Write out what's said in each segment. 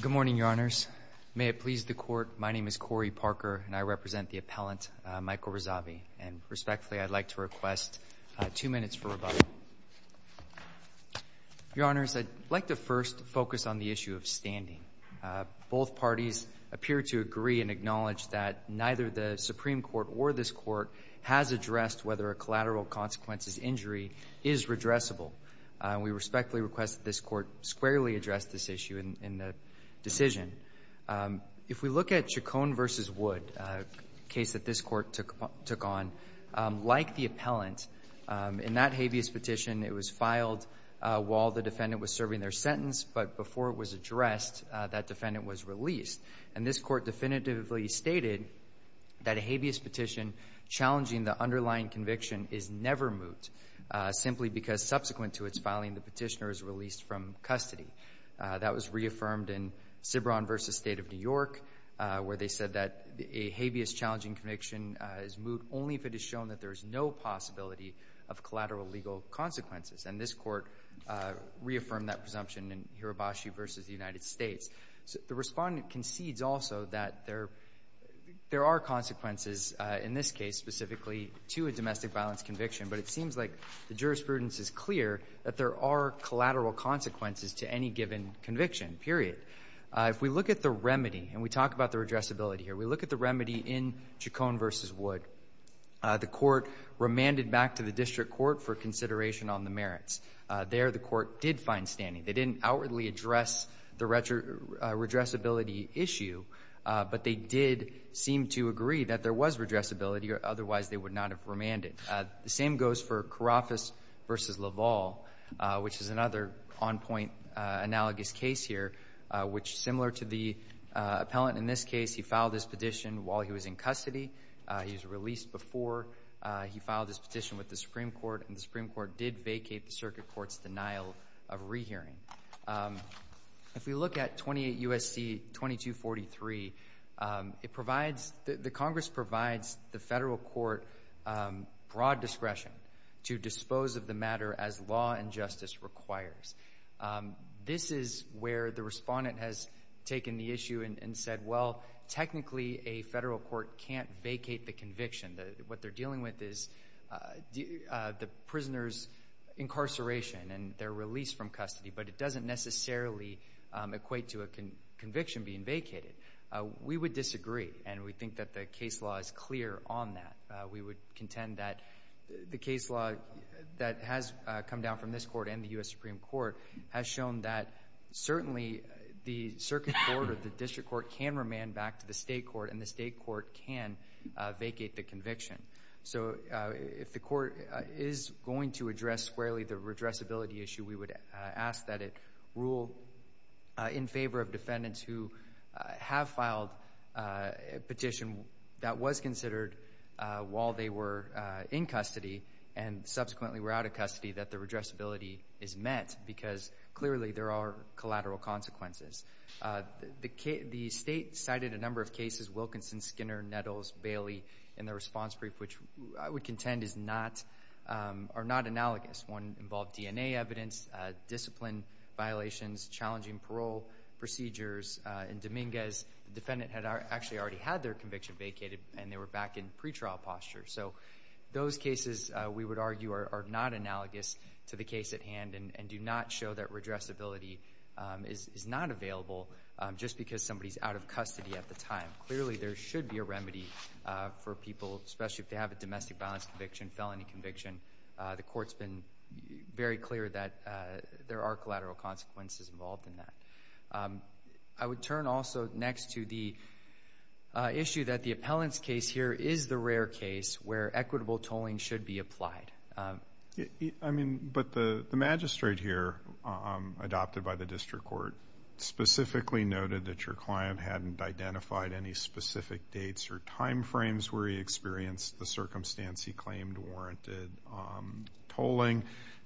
Good morning, Your Honors. May it please the Court, my name is Corey Parker, and I represent the appellant, Michael Razavi. And respectfully, I'd like to request two minutes for rebuttal. Your Honors, I'd like to first focus on the issue of standing. Both parties appear to agree and acknowledge that neither the Supreme Court or this Court has addressed whether a We respectfully request that this Court squarely address this issue in the decision. If we look at Chaconne v. Wood, a case that this Court took on, like the appellant, in that habeas petition, it was filed while the defendant was serving their sentence, but before it was addressed, that defendant was released. And this Court definitively stated that a habeas petition challenging the underlying conviction is never moot, simply because subsequent to its filing, the petitioner is released from custody. That was reaffirmed in Cibron v. State of New York, where they said that a habeas challenging conviction is moot only if it is shown that there is no possibility of collateral legal consequences. And this Court reaffirmed that presumption in Hirabashi v. the United States. The Respondent concedes also that there are consequences, in this case specifically, to a domestic violence conviction, but it seems like the jurisprudence is clear that there are collateral consequences to any given conviction, period. If we look at the remedy, and we talk about the redressability here, we look at the remedy in Chaconne v. Wood. The Court remanded back to the District Court for consideration on the merits. There, the Court did find standing. They didn't outwardly address the redressability issue, but they did seem to agree that there was not a remanded. The same goes for Carafas v. Laval, which is another on-point analogous case here, which, similar to the appellant in this case, he filed his petition while he was in custody. He was released before he filed his petition with the Supreme Court, and the Supreme Court did vacate the Circuit Court's denial of rehearing. If we look at 28 U.S.C. 2243, it provides, the Congress provides the federal court broad discretion to dispose of the matter as law and justice requires. This is where the respondent has taken the issue and said, well, technically, a federal court can't vacate the conviction. What they're dealing with is the prisoner's incarceration and their release from custody, but it doesn't necessarily equate to a conviction being vacated. We would disagree, and we think that the case law is clear on that. We would contend that the case law that has come down from this Court and the U.S. Supreme Court has shown that, certainly, the Circuit Court or the District Court can remand back to the State Court, and the State Court can vacate the conviction. So, if the Court is going to in favor of defendants who have filed a petition that was considered while they were in custody and subsequently were out of custody, that the redressability is met because, clearly, there are collateral consequences. The State cited a number of cases, Wilkinson, Skinner, Nettles, Bailey, in the response brief, which I would contend is not analogous. One involved DNA evidence, discipline violations, challenging parole procedures. In Dominguez, the defendant had actually already had their conviction vacated, and they were back in pretrial posture. So, those cases, we would argue, are not analogous to the case at hand and do not show that redressability is not available just because somebody's out of custody at the time. Clearly, there should be a remedy for people, especially if they have a domestic violence conviction, felony conviction. The Court's been very clear that there are collateral consequences involved in that. I would turn, also, next to the issue that the appellant's case here is the rare case where equitable tolling should be applied. I mean, but the magistrate here, adopted by the District Court, specifically noted that your client hadn't identified any specific dates or warranted tolling,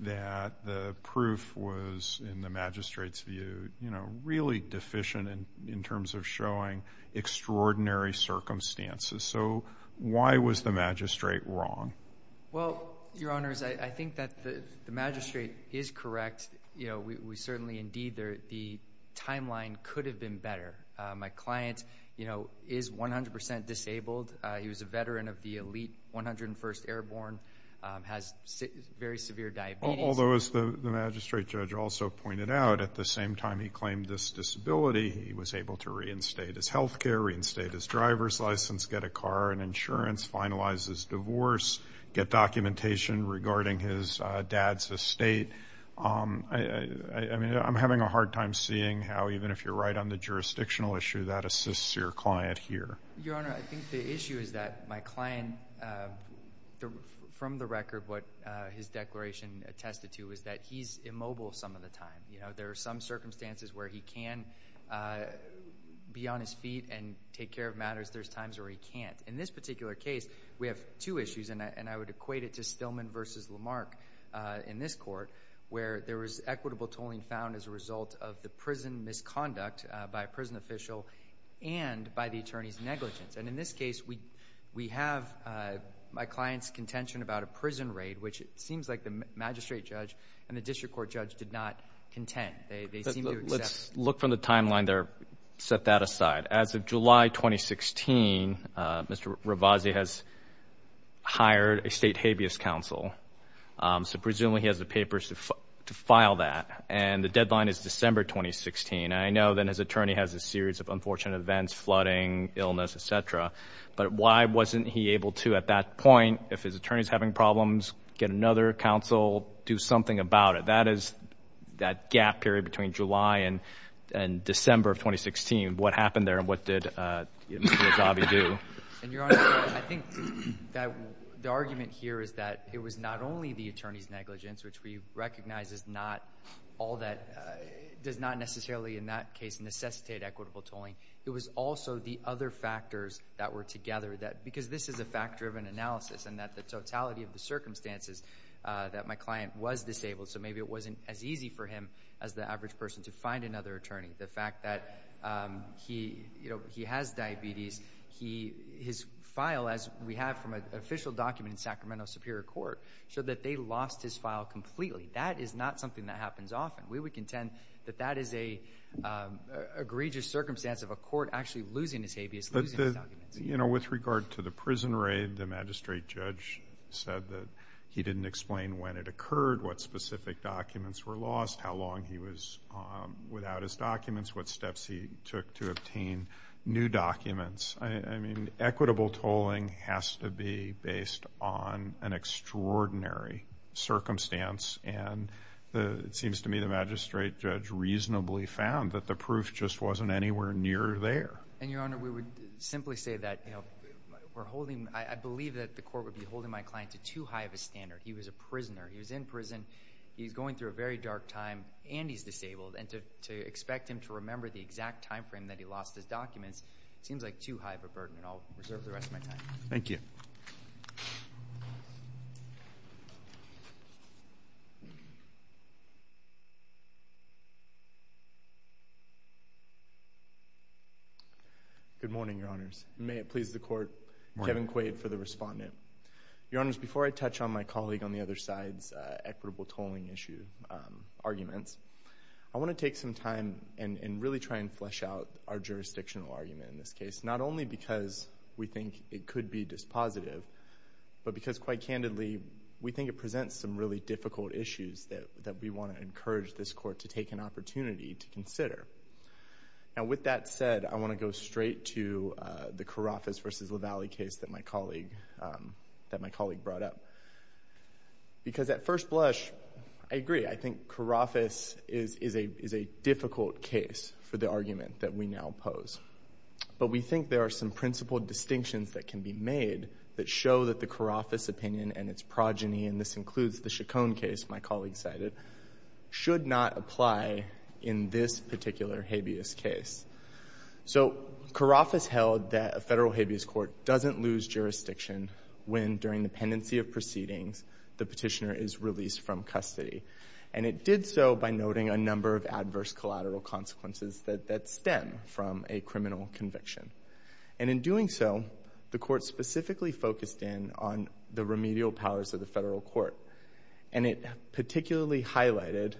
that the proof was, in the magistrate's view, you know, really deficient in terms of showing extraordinary circumstances. So, why was the magistrate wrong? Well, Your Honors, I think that the magistrate is correct. You know, we certainly, indeed, the timeline could have been better. My client, you know, is 100 percent disabled. He was a has very severe diabetes. Although, as the magistrate judge also pointed out, at the same time he claimed this disability, he was able to reinstate his health care, reinstate his driver's license, get a car and insurance, finalize his divorce, get documentation regarding his dad's estate. I mean, I'm having a hard time seeing how, even if you're right on the jurisdictional issue, that assists your client here. Your Honor, I think the issue is that my client, from the record, what his declaration attested to is that he's immobile some of the time. You know, there are some circumstances where he can be on his feet and take care of matters. There's times where he can't. In this particular case, we have two issues, and I would equate it to Stillman versus Lamarck in this court, where there was equitable tolling found as a result of the prison misconduct by a prison official and by the attorney's negligence. And in this case, we have my client's contention about a prison raid, which it seems like the magistrate judge and the district court judge did not contend. They seem to accept. Let's look from the timeline there, set that aside. As of July 2016, Mr. Ravazzi has hired a state habeas counsel. So, presumably, he has the papers to file that. And the deadline is December 2016. And I know that his attorney has a series of unfortunate events, flooding, illness, et cetera. But why wasn't he able to, at that point, if his attorney's having problems, get another counsel, do something about it? That is that gap period between July and December of 2016, what happened there and what did Mr. Ravazzi do. And your Honor, I think that the argument here is that it was not only the attorney's negligence, which we recognize is not all that, does not necessarily in that case necessitate equitable tolling. It was also the other factors that were together that, because this is a fact-driven analysis and that the totality of the circumstances that my client was disabled, so maybe it wasn't as easy for him as the average person to find another attorney. The fact that he has diabetes, his file, as we have from an official document in Sacramento Superior Court, showed that they lost his file completely. That is not something that happens often. We would contend that that is an egregious circumstance of a court actually losing his habeas, losing his documents. But, you know, with regard to the prison raid, the magistrate judge said that he didn't explain when it occurred, what specific documents were lost, how long he was without his documents, what steps he took to obtain new documents. I mean, equitable tolling has to be based on an extraordinary circumstance. And it seems to me the magistrate judge reasonably found that the proof just wasn't anywhere near there. And your Honor, we would simply say that, you know, we're holding, I believe that the court would be holding my client to too high of a standard. He was a prisoner. He was in prison. He's going through a very dark time and he's disabled. And to expect him to remember the exact time frame that he lost his documents seems like too high of a burden. And I'll reserve the rest of my time. Thank you. Good morning, Your Honors. May it please the Court, Kevin Quaid for the respondent. Your Honors, before I touch on my colleague on the other side's equitable tolling issue arguments, I want to take some time and really try and flesh out our jurisdictional argument in this case, not only because we think it could be dispositive, but because quite candidly, we think it presents some really difficult issues that we want to encourage this Court to take an opportunity to consider. Now, with that said, I want to go straight to the Kouroufis versus Kouroufis argument. I think Kouroufis is a difficult case for the argument that we now pose. But we think there are some principled distinctions that can be made that show that the Kouroufis opinion and its progeny, and this includes the Chaconne case my colleague cited, should not apply in this particular habeas case. So Kouroufis held that a federal habeas court doesn't lose jurisdiction when, during the pendency of proceedings, the petitioner is released from custody. And it did so by noting a number of adverse collateral consequences that stem from a criminal conviction. And in doing so, the Court specifically focused in on the remedial powers of the federal court. And it particularly highlighted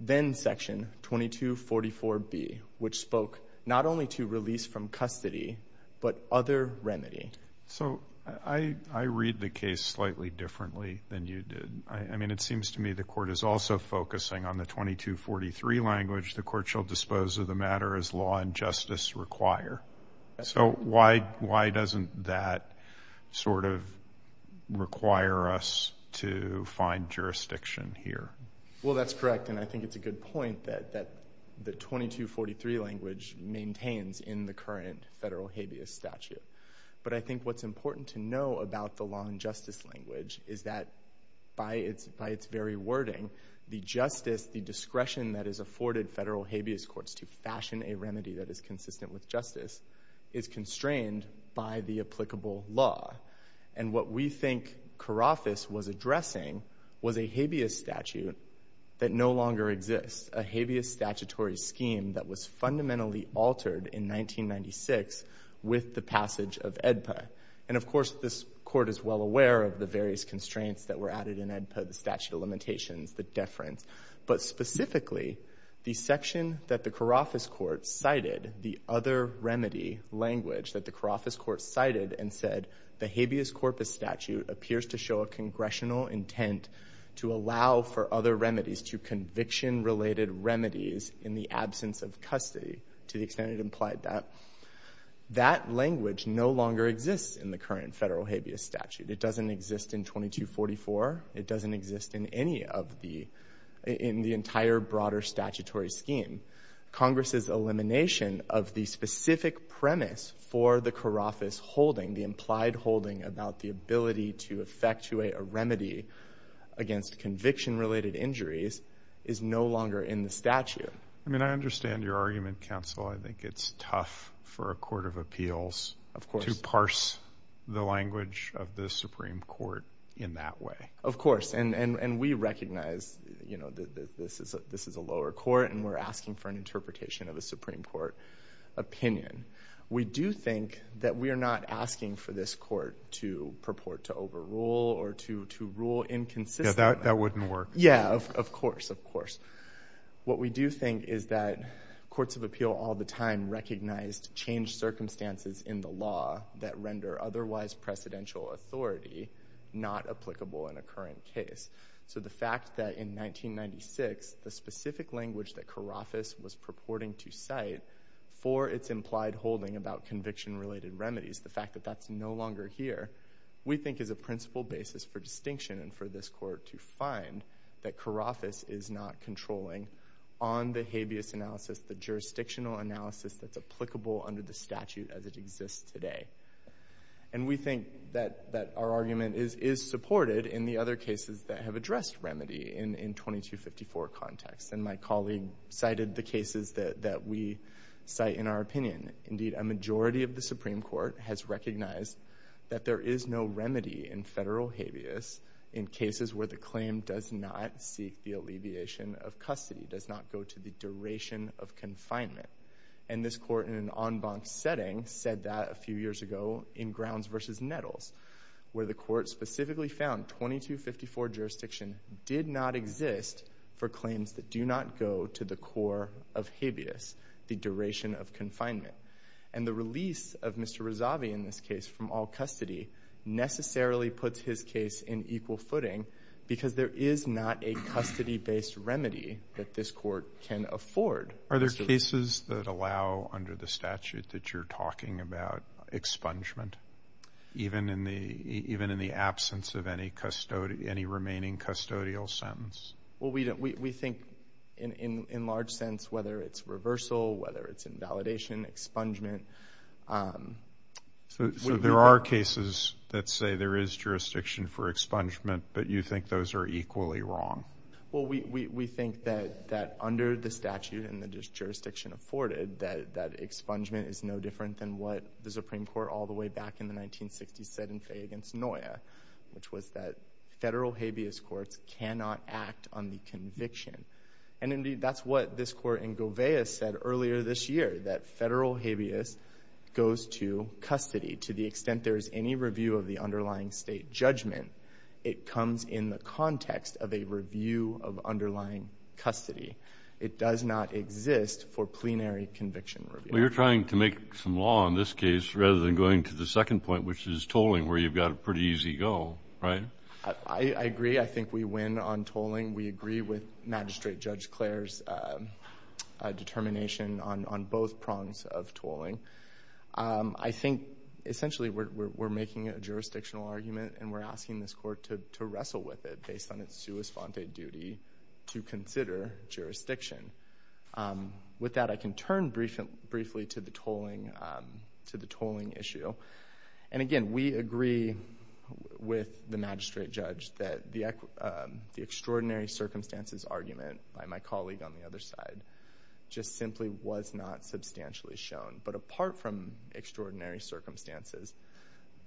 then section 2244B, which spoke not only to release from custody, but other remedy. So I read the case slightly differently than you did. I mean, it seems to me the Court is also focusing on the 2243 language, the Court shall dispose of the matter as law and justice require. So why doesn't that sort of require us to find jurisdiction here? Well, that's correct. And I think it's a good point that the 2243 language maintains in the current federal habeas statute. But I think what's important to know about the law and justice language is that by its very wording, the justice, the discretion that is afforded federal habeas courts to fashion a remedy that is consistent with justice, is constrained by the applicable law. And what we think Kouroufis was addressing was a habeas statute that no longer exists, a habeas statutory scheme that was fundamentally altered in 1996 with the passage of AEDPA. And, of course, this Court is well aware of the various constraints that were added in AEDPA, the statute of limitations, the deference. But specifically, the section that the Kouroufis Court cited, the other remedy language that the Kouroufis Court cited and said, the habeas corpus statute appears to show a congressional intent to allow for other remedies to conviction-related remedies in the absence of custody, to the extent it implied that, that language no longer exists in the current federal habeas statute. It doesn't exist in 2244. It doesn't exist in any of the, in the entire broader statutory scheme. Congress's elimination of the specific premise for the Kouroufis holding, the implied holding about the ability to effectuate a remedy against conviction-related injuries, is no longer in the statute. I mean, I understand your argument, counsel. I think it's tough for a court of appeals to parse the language of the Supreme Court in that way. Of course. And we recognize, you know, that this is a lower court and we're asking for an interpretation of a Supreme Court opinion. We do think that we are not asking for this court to purport to overrule or to rule inconsistently. Yeah, that wouldn't work. Yeah, of course, of course. What we do think is that courts of appeal all the time recognized changed circumstances in the law that render otherwise precedential authority not applicable in a current case. So the fact that in 1996, the specific language that Kouroufis was purporting to cite for its implied holding about conviction-related remedies, the fact that that's no longer here, we think is a principle basis for distinction and for this court to find that Kouroufis is not controlling on the habeas analysis, the jurisdictional analysis that's applicable under the statute as it exists today. And we think that our argument is supported in the other cases that have addressed remedy in 2254 context. And my colleague cited the cases that we cite in our opinion. Indeed, a majority of the Supreme Court has recognized that there is no remedy in federal habeas in cases where the claim does not seek the alleviation of custody, does not go to the duration of confinement. And this court in an en banc setting said that a few years ago in Grounds v. Nettles, where the court specifically found 2254 jurisdiction did not exist for claims that do not go to the core of habeas, the duration of confinement. And the release of Mr. Rezavi in this case from all custody necessarily puts his case in equal footing because there is not a custody-based remedy that this court can afford. Are there cases that allow under the statute that you're talking about expungement, even in the absence of any remaining custodial sentence? Well, we think in large sense, whether it's reversal, whether it's invalidation, expungement. So there are cases that say there is jurisdiction for expungement, but you think those are equally wrong? Well, we think that under the statute and the jurisdiction afforded, that expungement is no different than what the Supreme Court all the way back in the 1960s said in Fay against Noya, which was that federal habeas courts cannot act on the conviction. And indeed, that's what this court in Goveia said earlier this year, that federal habeas goes to custody. To the extent there is any review of the underlying state judgment, it comes in the context of a review of underlying custody. It does not exist for plenary conviction review. Well, you're trying to make some law in this case rather than going to the second point, which is tolling, where you've got a pretty easy go, right? I agree. I think we win on tolling. We agree with Magistrate Judge Clare's determination on both prongs of tolling. I think essentially we're making a jurisdictional argument and we're asking this court to wrestle with it based on its sua sponte duty to consider jurisdiction. With that, I can turn briefly to the tolling issue. And again, we agree with the magistrate judge that the extraordinary circumstances argument by my colleague on the other side just simply was not substantially shown. But apart from extraordinary circumstances,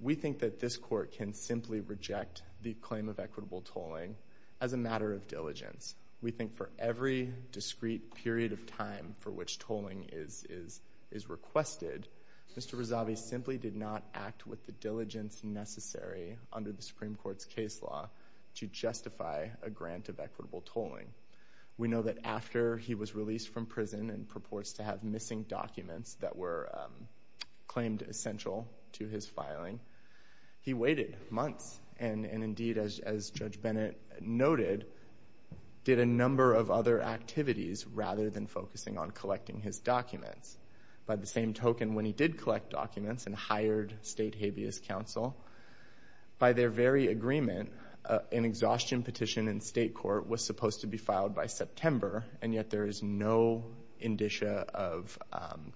we think that this court can simply reject the claim of equitable tolling as a matter of diligence. We think for every discrete period of time for which tolling is requested, Mr. Rezavi simply did not act with the diligence necessary under the Supreme Court's case law to justify a grant of equitable tolling. We know that after he was released from prison and purports to have missing documents that were claimed essential to his filing, he waited months and indeed, as Judge Bennett noted, did a number of other activities rather than focusing on documents. By the same token, when he did collect documents and hired state habeas counsel, by their very agreement, an exhaustion petition in state court was supposed to be filed by September and yet there is no indicia of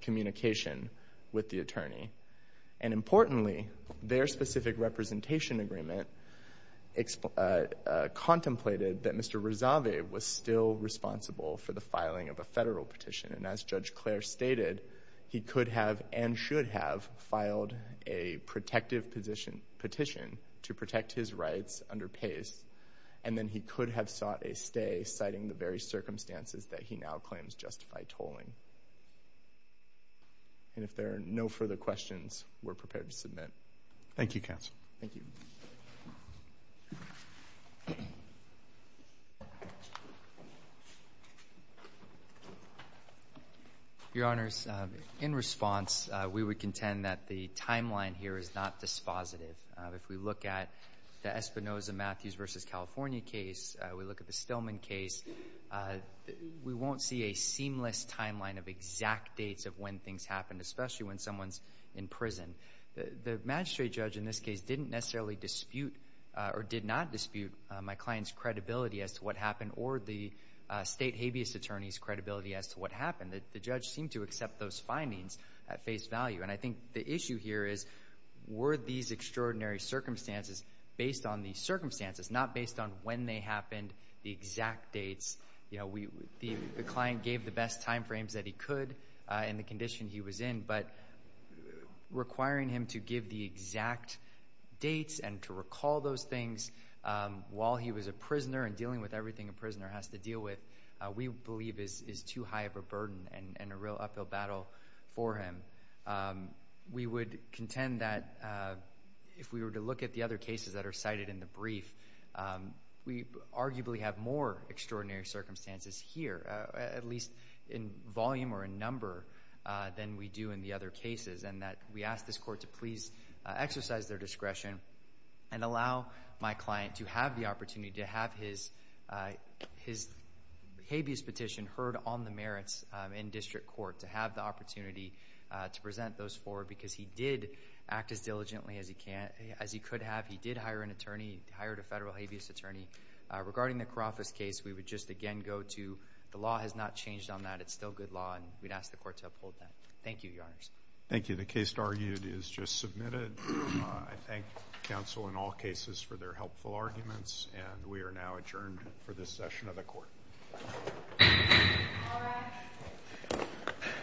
communication with the attorney. And importantly, their specific representation agreement contemplated that Mr. Rezavi was still responsible for the filing of a grant of equitable tolling. As Claire stated, he could have and should have filed a protective petition to protect his rights under PACE and then he could have sought a stay, citing the very circumstances that he now claims justify tolling. And if there are no further questions, we're prepared to submit. Thank you, counsel. Thank you. Your Honors, in response, we would contend that the timeline here is not dispositive. If we look at the Espinoza Matthews v. California case, we look at the Stillman case, we won't see a seamless timeline of exact dates of when things happened, especially when someone's in prison. The magistrate judge in this case didn't necessarily dispute or did not dispute my client's credibility as to what happened or the state habeas attorney's credibility as to what seemed to accept those findings at face value. And I think the issue here is, were these extraordinary circumstances based on the circumstances, not based on when they happened, the exact dates. The client gave the best time frames that he could in the condition he was in, but requiring him to give the exact dates and to recall those things while he was a prisoner and dealing with everything a prisoner has to deal with, we believe is too high of a burden and a real uphill battle for him. We would contend that if we were to look at the other cases that are cited in the brief, we arguably have more extraordinary circumstances here, at least in volume or in number, than we do in the other cases, and that we ask this court to please exercise their discretion and allow my client to have the opportunity to have his habeas petition heard on the merits in district court, to have the opportunity to present those forward, because he did act as diligently as he could have. He did hire an attorney, hired a federal habeas attorney. Regarding the Karofas case, we would just again go to the law has not changed on that. It's still good law, and we'd ask the court to uphold that. Thank you, Your Honors. Thank you. The case argued is just submitted. I thank counsel in all cases for their helpful arguments, and we are now adjourned for this session of the court.